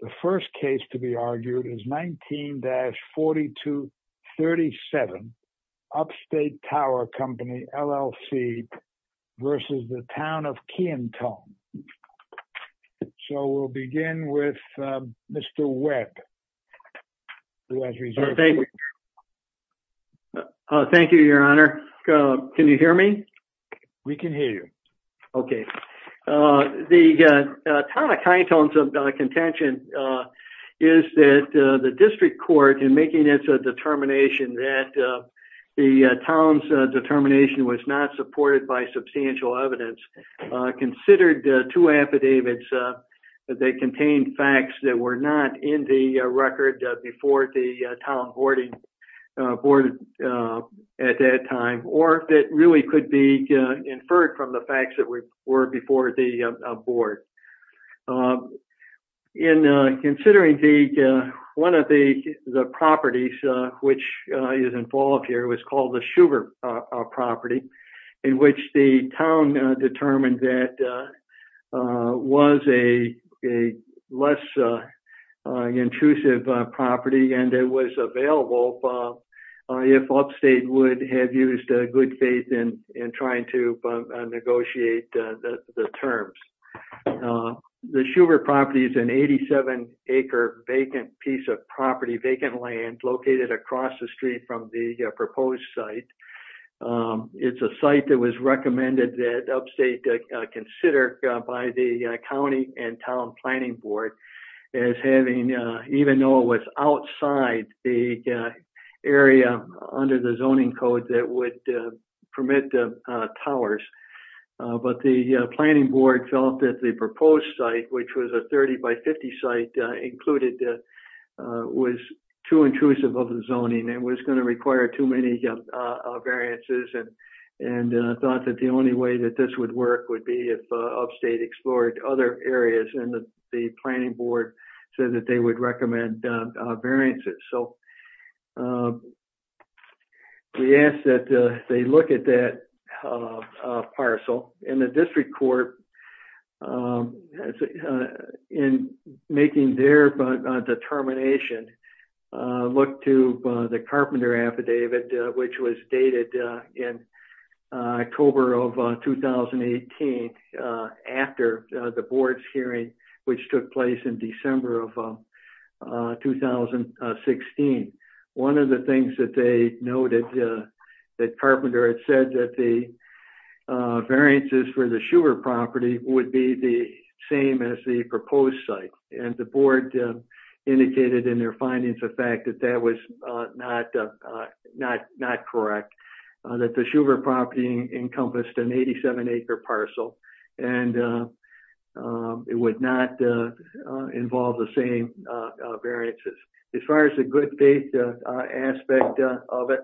The first case to be argued is 19-4237, Up State Tower Co., L.L.C. v. The Town of Kiantone. So we'll begin with Mr. Webb, who has reserved the floor. Thank you, Your Honor. Can you hear me? We can hear you. Okay. The Town of Kiantone's contention is that the district court, in making its determination that the town's determination was not supported by substantial evidence, considered two affidavits that contained facts that were not in the record before the town board at that time, or that really could be inferred from the facts that were before the board. In considering one of the properties which is involved here, it was called the Shubert property, in which the town determined that it was a less intrusive property and it was available if Up State would have used good faith in trying to negotiate the terms. The Shubert property is an 87-acre vacant piece of property, vacant land, located across the street from the proposed site. It's a site that was recommended that Up State consider by the county and town planning board as having, even though it was outside the area under the zoning code that would permit the towers. But the planning board felt that the proposed site, which was a 30 by 50 site included, was too intrusive of the zoning and was going to require too many variances. And thought that the only way that this would work would be if Up State explored other areas and the planning board said that they would recommend variances. We asked that they look at that parcel and the district court, in making their determination, looked to the carpenter affidavit, which was dated in October of 2018 after the board's hearing, which took place in December of 2017. One of the things that they noted, that carpenter had said that the variances for the Shubert property would be the same as the proposed site. And the board indicated in their findings the fact that that was not correct, that the Shubert property encompassed an 87-acre parcel and it would not involve the same variances. As far as the good date aspect of it,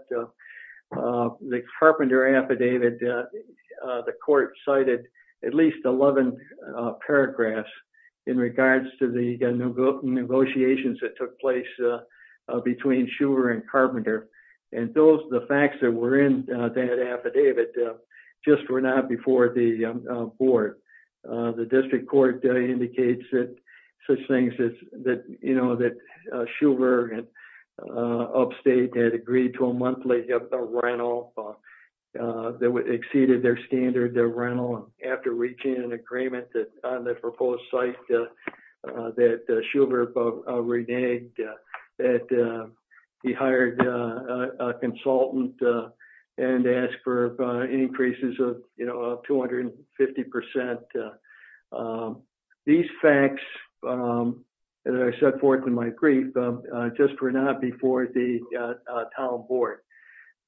the carpenter affidavit, the court cited at least 11 paragraphs in regards to the negotiations that took place between Shubert and Carpenter. And the facts that were in that affidavit just were not before the board. The district court indicates that Shubert and Up State had agreed to a monthly rental that exceeded their standard rental. After reaching an agreement on the proposed site that Shubert reneged, that he hired a consultant and asked for increases of 250%. These facts, as I set forth in my brief, just were not before the town board.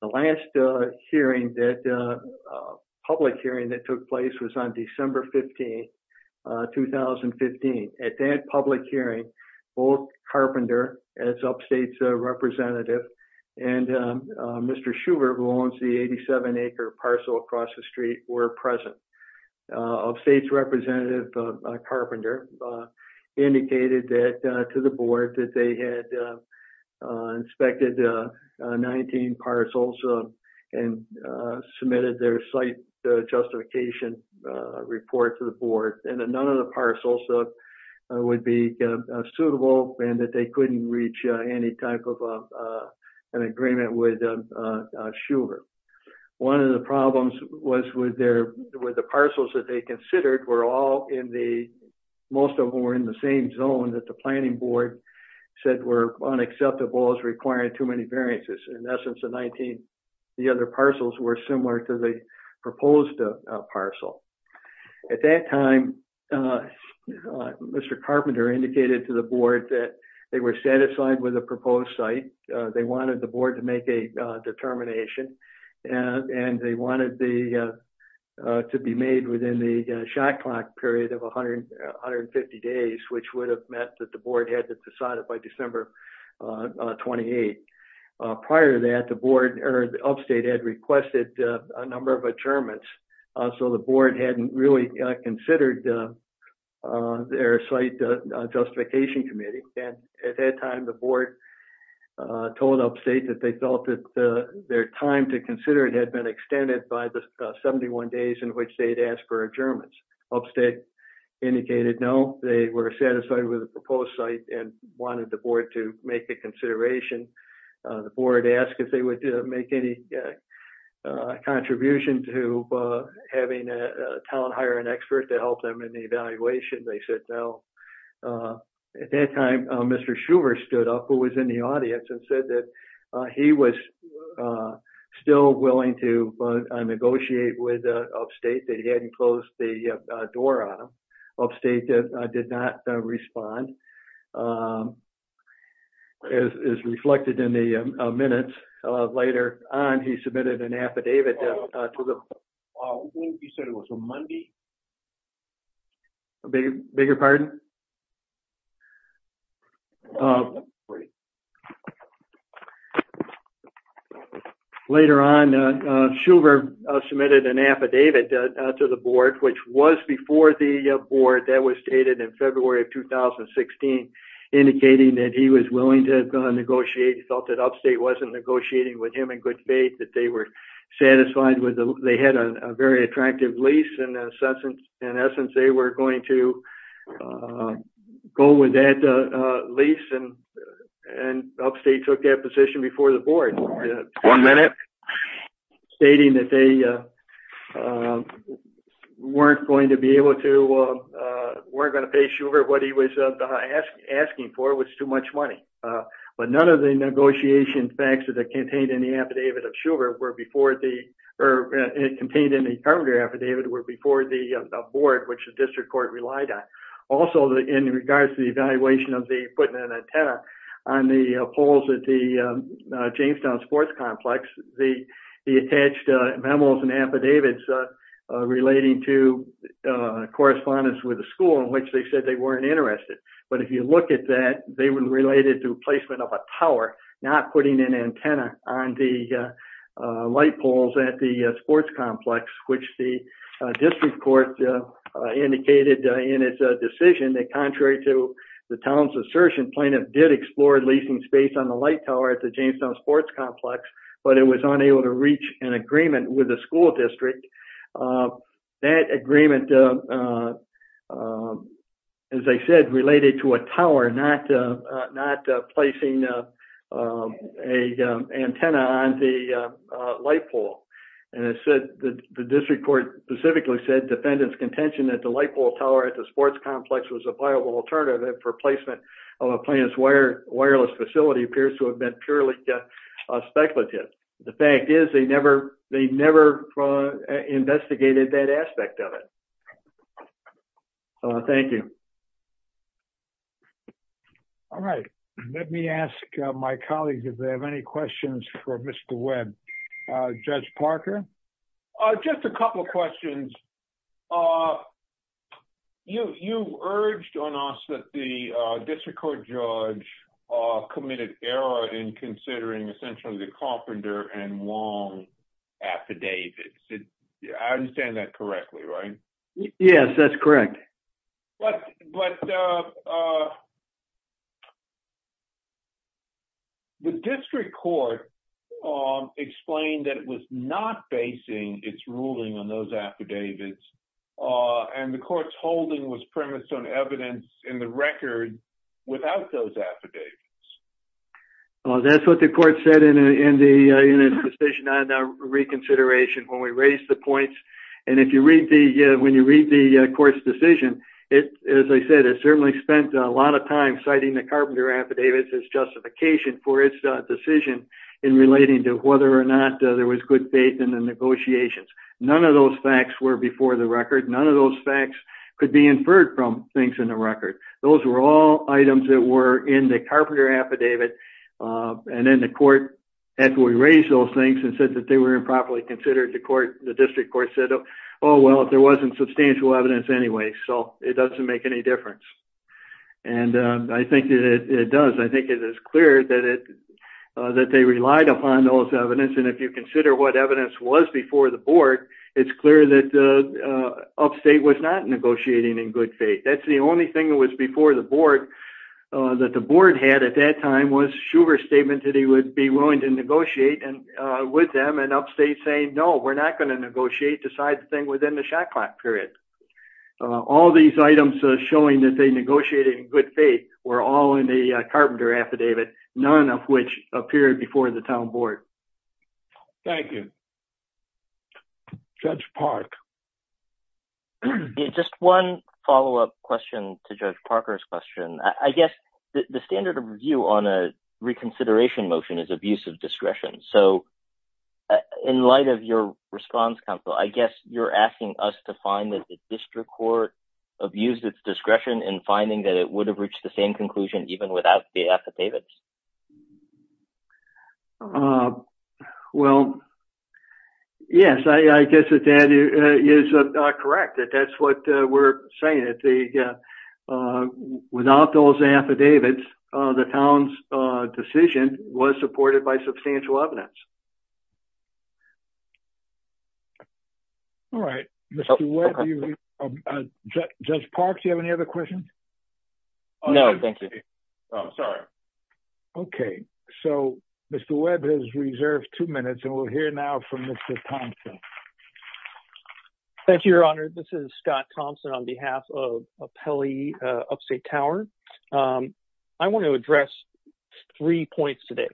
The last public hearing that took place was on December 15, 2015. At that public hearing, both Carpenter, as Up State's representative, and Mr. Shubert, who owns the 87-acre parcel across the street, were present. Up State's representative, Carpenter, indicated to the board that they had inspected 19 parcels and submitted their site justification report to the board. And that none of the parcels would be suitable and that they couldn't reach any type of an agreement with Shubert. One of the problems was with the parcels that they considered were all in the, most of them were in the same zone that the planning board said were unacceptable as requiring too many variances. In essence, the other parcels were similar to the proposed parcel. At that time, Mr. Carpenter indicated to the board that they were satisfied with the proposed site. They wanted the board to make a determination and they wanted it to be made within the shot clock period of 150 days, which would have meant that the board had to decide it by December 28. Prior to that, Up State had requested a number of adjournments, so the board hadn't really considered their site justification committee. At that time, the board told Up State that they felt that their time to consider it had been extended by the 71 days in which they'd asked for adjournments. Up State indicated no, they were satisfied with the proposed site and wanted the board to make a consideration. The board asked if they would make any contribution to having a town hire an expert to help them in the evaluation. They said no. At that time, Mr. Schuver stood up, who was in the audience, and said that he was still willing to negotiate with Up State, that he hadn't closed the door on them. Up State did not respond. As reflected in the minutes later on, he submitted an affidavit to the board. You said it was a Monday? A bigger pardon? Later on, Schuver submitted an affidavit to the board, which was before the board. That was stated in February of 2016, indicating that he was willing to negotiate. He felt that Up State wasn't negotiating with him in good faith, that they had a very attractive lease. In essence, they were going to go with that lease, and Up State took that position before the board. One minute. Stating that they weren't going to pay Schuver what he was asking for, which was too much money. None of the negotiation facts contained in the affidavit of Schuver were before the board, which the district court relied on. Also, in regards to the evaluation of putting an antenna on the poles at the Jamestown Sports Complex, the attached memos and affidavits relating to correspondence with the school, in which they said they weren't interested. If you look at that, they were related to placement of a tower, not putting an antenna on the light poles at the sports complex, which the district court indicated in its decision that, contrary to the town's assertion, plaintiff did explore leasing space on the light tower at the Jamestown Sports Complex, but it was unable to reach an agreement with the school district. That agreement, as I said, related to a tower, not placing an antenna on the light pole. The district court specifically said defendants' contention that the light pole tower at the sports complex was a viable alternative for placement of a plaintiff's wireless facility appears to have been purely speculative. The fact is they never investigated that aspect of it. Thank you. All right. Let me ask my colleagues if they have any questions for Mr. Webb. Judge Parker? Just a couple of questions. You urged on us that the district court judge committed error in considering essentially the Carpenter and Wong affidavits. I understand that correctly, right? Yes, that's correct. But the district court explained that it was not basing its ruling on those affidavits, and the court's holding was premised on evidence in the record without those affidavits. That's what the court said in its decision on the reconsideration when we raised the points. And when you read the court's decision, as I said, it certainly spent a lot of time citing the Carpenter affidavits as justification for its decision in relating to whether or not there was good faith in the negotiations. None of those facts were before the record. None of those facts could be inferred from things in the record. Those were all items that were in the Carpenter affidavit. And then the court, after we raised those things and said that they were improperly considered, the district court said, oh, well, there wasn't substantial evidence anyway, so it doesn't make any difference. And I think it does. I think it is clear that they relied upon those evidence. And if you consider what evidence was before the board, it's clear that Upstate was not negotiating in good faith. That's the only thing that was before the board that the board had at that time was Shuver's statement that he would be willing to negotiate with them and Upstate saying, no, we're not going to negotiate, decide the thing within the shot clock period. All these items showing that they negotiated in good faith were all in the Carpenter affidavit, none of which appeared before the town board. Thank you. Judge Park. Just one follow-up question to Judge Parker's question. I guess the standard of review on a reconsideration motion is abuse of discretion. So in light of your response, counsel, I guess you're asking us to find that the district court abused its discretion in finding that it would have reached the same conclusion even without the affidavits. Well, yes, I guess that is correct. That's what we're saying. Without those affidavits, the town's decision was supported by substantial evidence. All right. Judge Park, do you have any other questions? No, thank you. Sorry. Okay. So Mr. Webb has reserved two minutes and we'll hear now from Mr. Thompson. Thank you, your honor. This is Scott Thompson on behalf of Upstate Tower. I want to address three points today.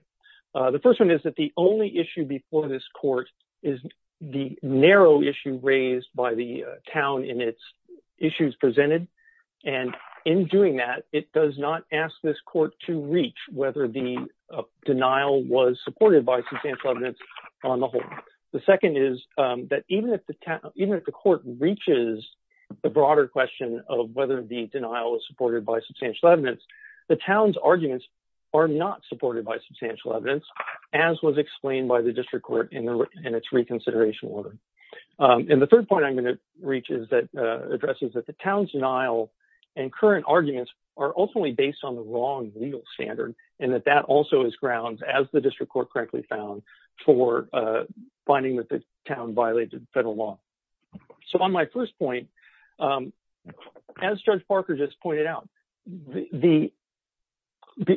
The first one is that the only issue before this court is the narrow issue raised by the town in its issues presented. And in doing that, it does not ask this court to reach whether the denial was supported by substantial evidence on the whole. The second is that even if the court reaches the broader question of whether the denial is supported by substantial evidence, the town's arguments are not supported by substantial evidence, as was explained by the district court in its reconsideration order. And the third point I'm going to address is that the town's denial and current arguments are ultimately based on the wrong legal standard, and that that also is grounds, as the district court correctly found, for finding that the town violated federal law. So on my first point, as Judge Parker just pointed out,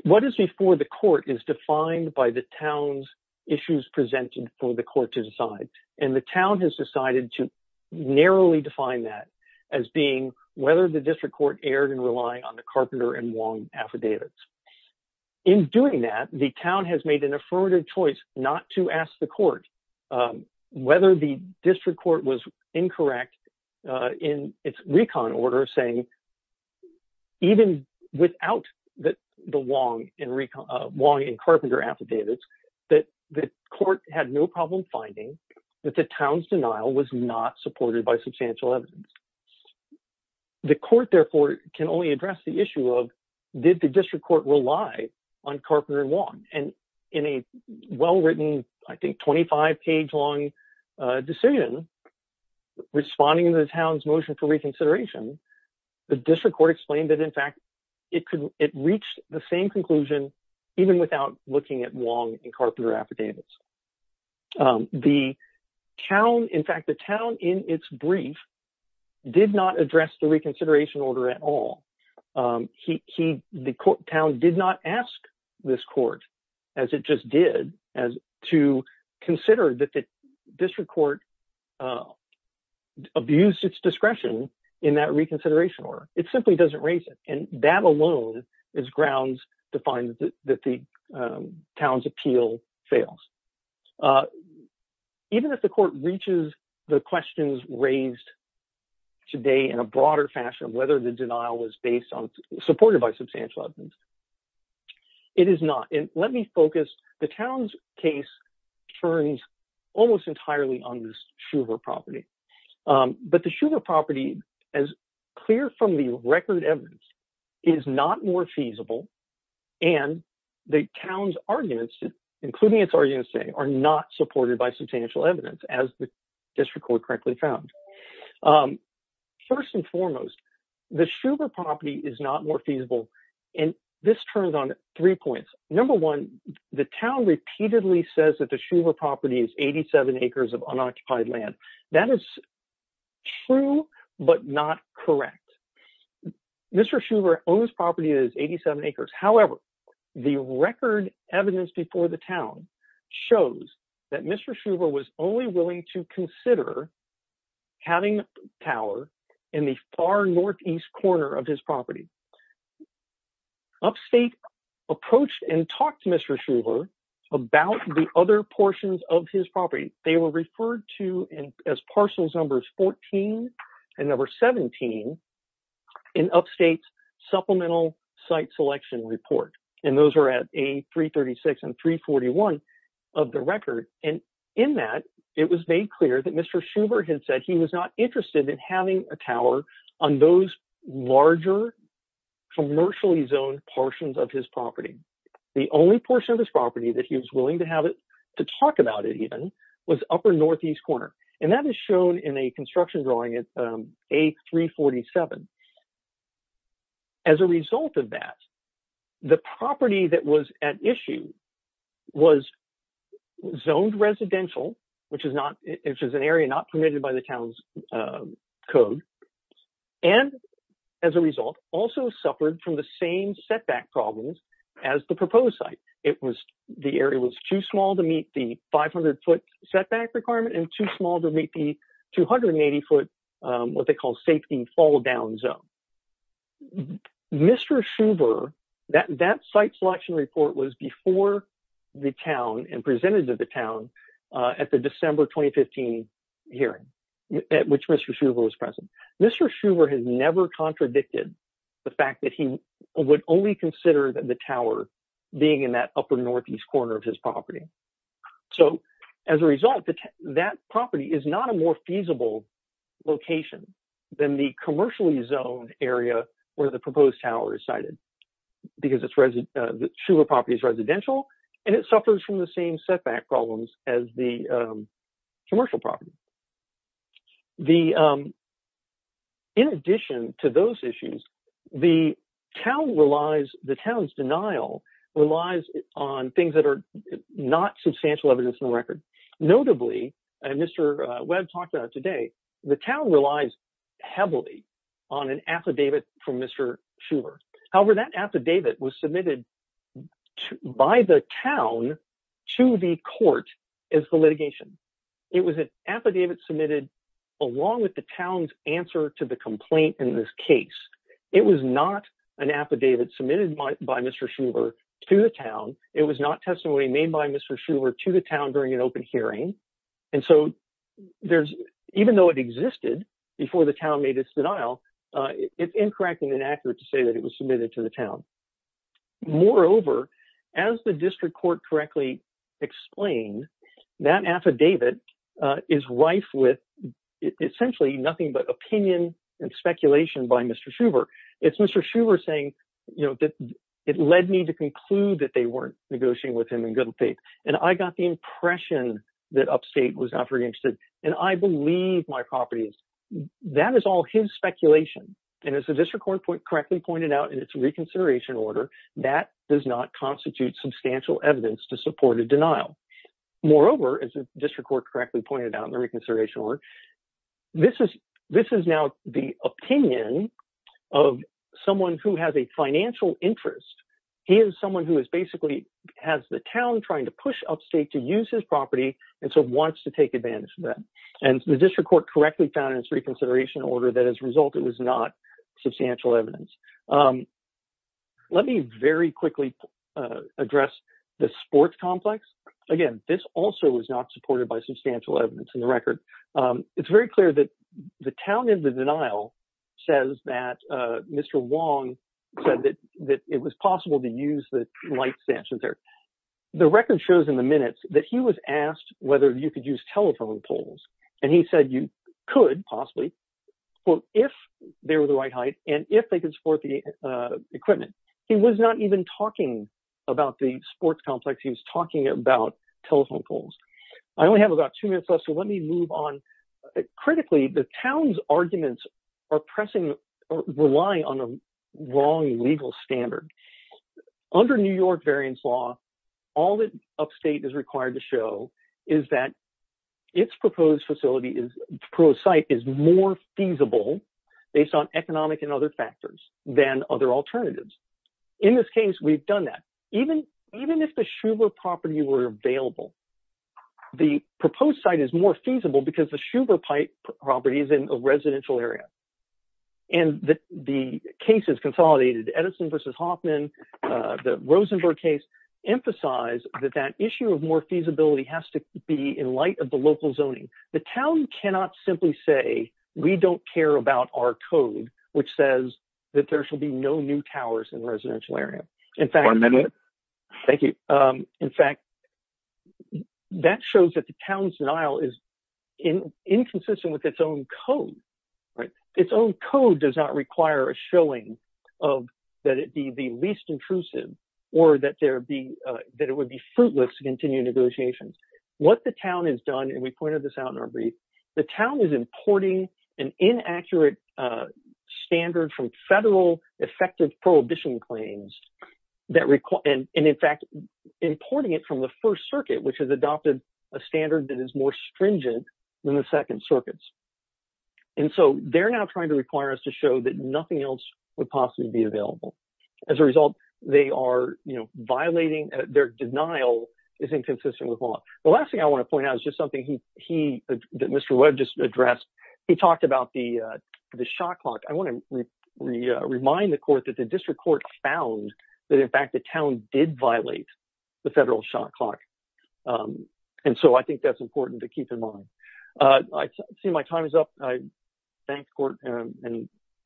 what is before the court is defined by the town's issues presented for the court to decide. And the town has decided to narrowly define that as being whether the district court erred in relying on the Carpenter and Wong affidavits. In doing that, the town has made an affirmative choice not to ask the court whether the district court was incorrect in its recon order, even without the Wong and Carpenter affidavits, that the court had no problem finding that the town's denial was not supported by substantial evidence. The court, therefore, can only address the issue of, did the district court rely on Carpenter and Wong? And in a well-written, I think, 25-page-long decision responding to the town's motion for reconsideration, the district court explained that, in fact, it reached the same conclusion even without looking at Wong and Carpenter affidavits. The town, in fact, the town in its brief did not address the reconsideration order at all. The town did not ask this court, as it just did, to consider that the district court abused its discretion in that reconsideration order. It simply doesn't raise it, and that alone is grounds to find that the town's appeal fails. Even if the court reaches the questions raised today in a broader fashion, whether the denial was supported by substantial evidence, it is not. And let me focus. The town's case turns almost entirely on this Schuver property. But the Schuver property, as clear from the record evidence, is not more feasible, and the town's arguments, including its arguments today, are not supported by substantial evidence, as the district court correctly found. First and foremost, the Schuver property is not more feasible, and this turns on three points. Number one, the town repeatedly says that the Schuver property is 87 acres of unoccupied land. That is true, but not correct. Mr. Schuver owns property that is 87 acres. However, the record evidence before the town shows that Mr. Schuver was only willing to consider having power in the far northeast corner of his property. Upstate approached and talked to Mr. Schuver about the other portions of his property. They were referred to as parcels numbers 14 and number 17 in Upstate's supplemental site selection report, and those are at A336 and 341 of the record. And in that, it was made clear that Mr. Schuver had said he was not interested in having a tower on those larger commercially zoned portions of his property. The only portion of his property that he was willing to have it to talk about it even was upper northeast corner, and that is shown in a construction drawing at A347. As a result of that, the property that was at issue was zoned residential, which is an area not permitted by the town's code, and as a result, also suffered from the same setback problems as the proposed site. It was the area was too small to meet the 500 foot setback requirement and too small to meet the 280 foot what they call safety fall down zone. Mr. Schuver, that site selection report was before the town and presented to the town at the December 2015 hearing at which Mr. Schuver was present. Mr. Schuver has never contradicted the fact that he would only consider the tower being in that upper northeast corner of his property. So, as a result, that property is not a more feasible location than the commercially zoned area where the proposed tower is sited, because Schuver property is residential and it suffers from the same setback problems as the commercial property. In addition to those issues, the town's denial relies on things that are not substantial evidence in the record. Notably, as Mr. Webb talked about today, the town relies heavily on an affidavit from Mr. Schuver. However, that affidavit was submitted by the town to the court as the litigation. It was an affidavit submitted along with the town's answer to the complaint in this case. It was not an affidavit submitted by Mr. Schuver to the town. It was not testimony made by Mr. Schuver to the town during an open hearing. And so, even though it existed before the town made its denial, it's incorrect and inaccurate to say that it was submitted to the town. Moreover, as the district court correctly explained, that affidavit is rife with essentially nothing but opinion and speculation by Mr. Schuver. It's Mr. Schuver saying that it led me to conclude that they weren't negotiating with him in good faith. And I got the impression that Upstate was not very interested. And I believe my property is. That is all his speculation. And as the district court correctly pointed out in its reconsideration order, that does not constitute substantial evidence to support a denial. Moreover, as the district court correctly pointed out in the reconsideration order, this is now the opinion of someone who has a financial interest. He is someone who is basically has the town trying to push Upstate to use his property and so wants to take advantage of that. And the district court correctly found in its reconsideration order that as a result, it was not substantial evidence. Let me very quickly address the sports complex. Again, this also was not supported by substantial evidence in the record. It's very clear that the town in the denial says that Mr. Wong said that it was possible to use the light stanchions there. The record shows in the minutes that he was asked whether you could use telephone poles. And he said you could possibly if they were the right height and if they could support the equipment. He was not even talking about the sports complex. He was talking about telephone poles. I only have about two minutes left, so let me move on. Critically, the town's arguments are pressing, relying on a wrong legal standard. Under New York variance law, all that Upstate is required to show is that its proposed facility is pro site is more feasible based on economic and other factors than other alternatives. In this case, we've done that. Even even if the Schubert property were available, the proposed site is more feasible because the Schubert pipe property is in a residential area. And the case is consolidated Edison versus Hoffman. The Rosenberg case emphasized that that issue of more feasibility has to be in light of the local zoning. The town cannot simply say we don't care about our code, which says that there shall be no new towers in residential area. In fact, thank you. In fact, that shows that the town's denial is inconsistent with its own code. Right. Its own code does not require a showing of that. It be the least intrusive or that there be that it would be fruitless to continue negotiations. What the town has done, and we pointed this out in our brief, the town is importing an inaccurate standard from federal effective prohibition claims that recall. And in fact, importing it from the first circuit, which has adopted a standard that is more stringent than the second circuits. And so they're now trying to require us to show that nothing else would possibly be available. As a result, they are violating their denial is inconsistent with law. The last thing I want to point out is just something he that Mr. Webb just addressed. He talked about the the shot clock. I want to remind the court that the district court found that, in fact, the town did violate the federal shot clock. And so I think that's important to keep in mind. I see my time is up. Thank you for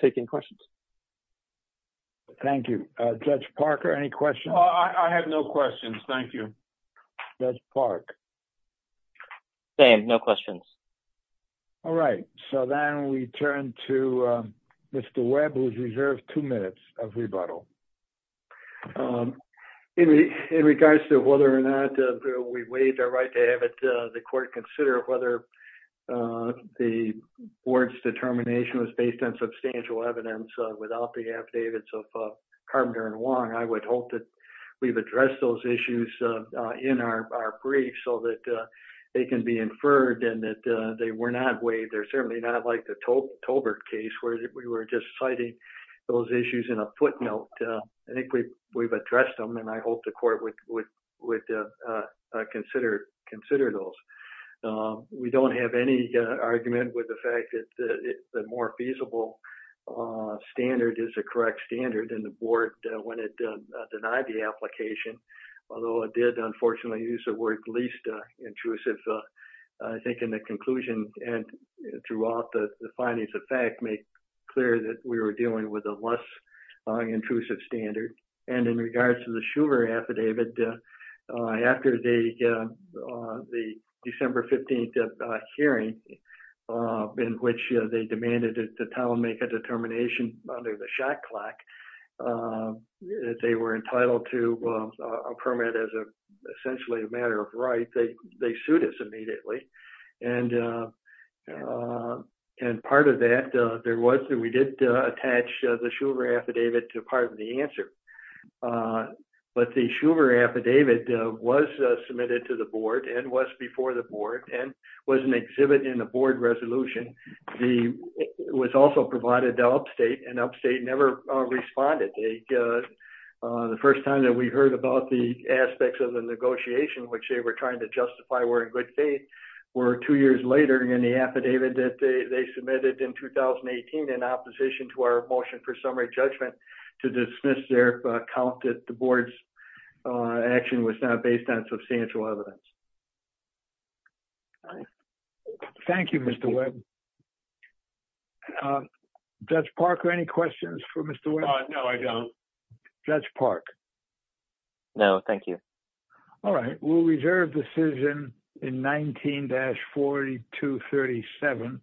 taking questions. Thank you, Judge Parker. Any questions? I have no questions. Thank you. Judge Park. No questions. All right. So then we turn to Mr. Webb, who's reserved two minutes of rebuttal. In regards to whether or not we waived our right to have the court consider whether the board's determination was based on substantial evidence without the affidavits of Carpenter and Wong, I would hope that we've addressed those issues in our brief so that they can be inferred and that they were not waived. They're certainly not like the Tobert case where we were just citing those issues in a footnote. I think we've addressed them, and I hope the court would consider those. We don't have any argument with the fact that the more feasible standard is the correct standard in the board when it denied the application, although it did unfortunately use the word least intrusive. I think in the conclusion and throughout the findings of fact make clear that we were dealing with a less intrusive standard. And in regards to the Shuver affidavit, after the December 15th hearing in which they demanded that the town make a determination under the shot clock that they were entitled to a permit as essentially a matter of right, I think they sued us immediately. And part of that, we did attach the Shuver affidavit to part of the answer. But the Shuver affidavit was submitted to the board and was before the board and was an exhibit in the board resolution. It was also provided to Upstate, and Upstate never responded. The first time that we heard about the aspects of the negotiation, which they were trying to justify were in good faith, were two years later. And the affidavit that they submitted in 2018 in opposition to our motion for summary judgment to dismiss their count that the board's action was not based on substantial evidence. Thank you, Mr. Webb. Judge Parker, any questions for Mr. Webb? No, I don't. Judge Park? No, thank you. All right. We'll reserve decision in 19-4237.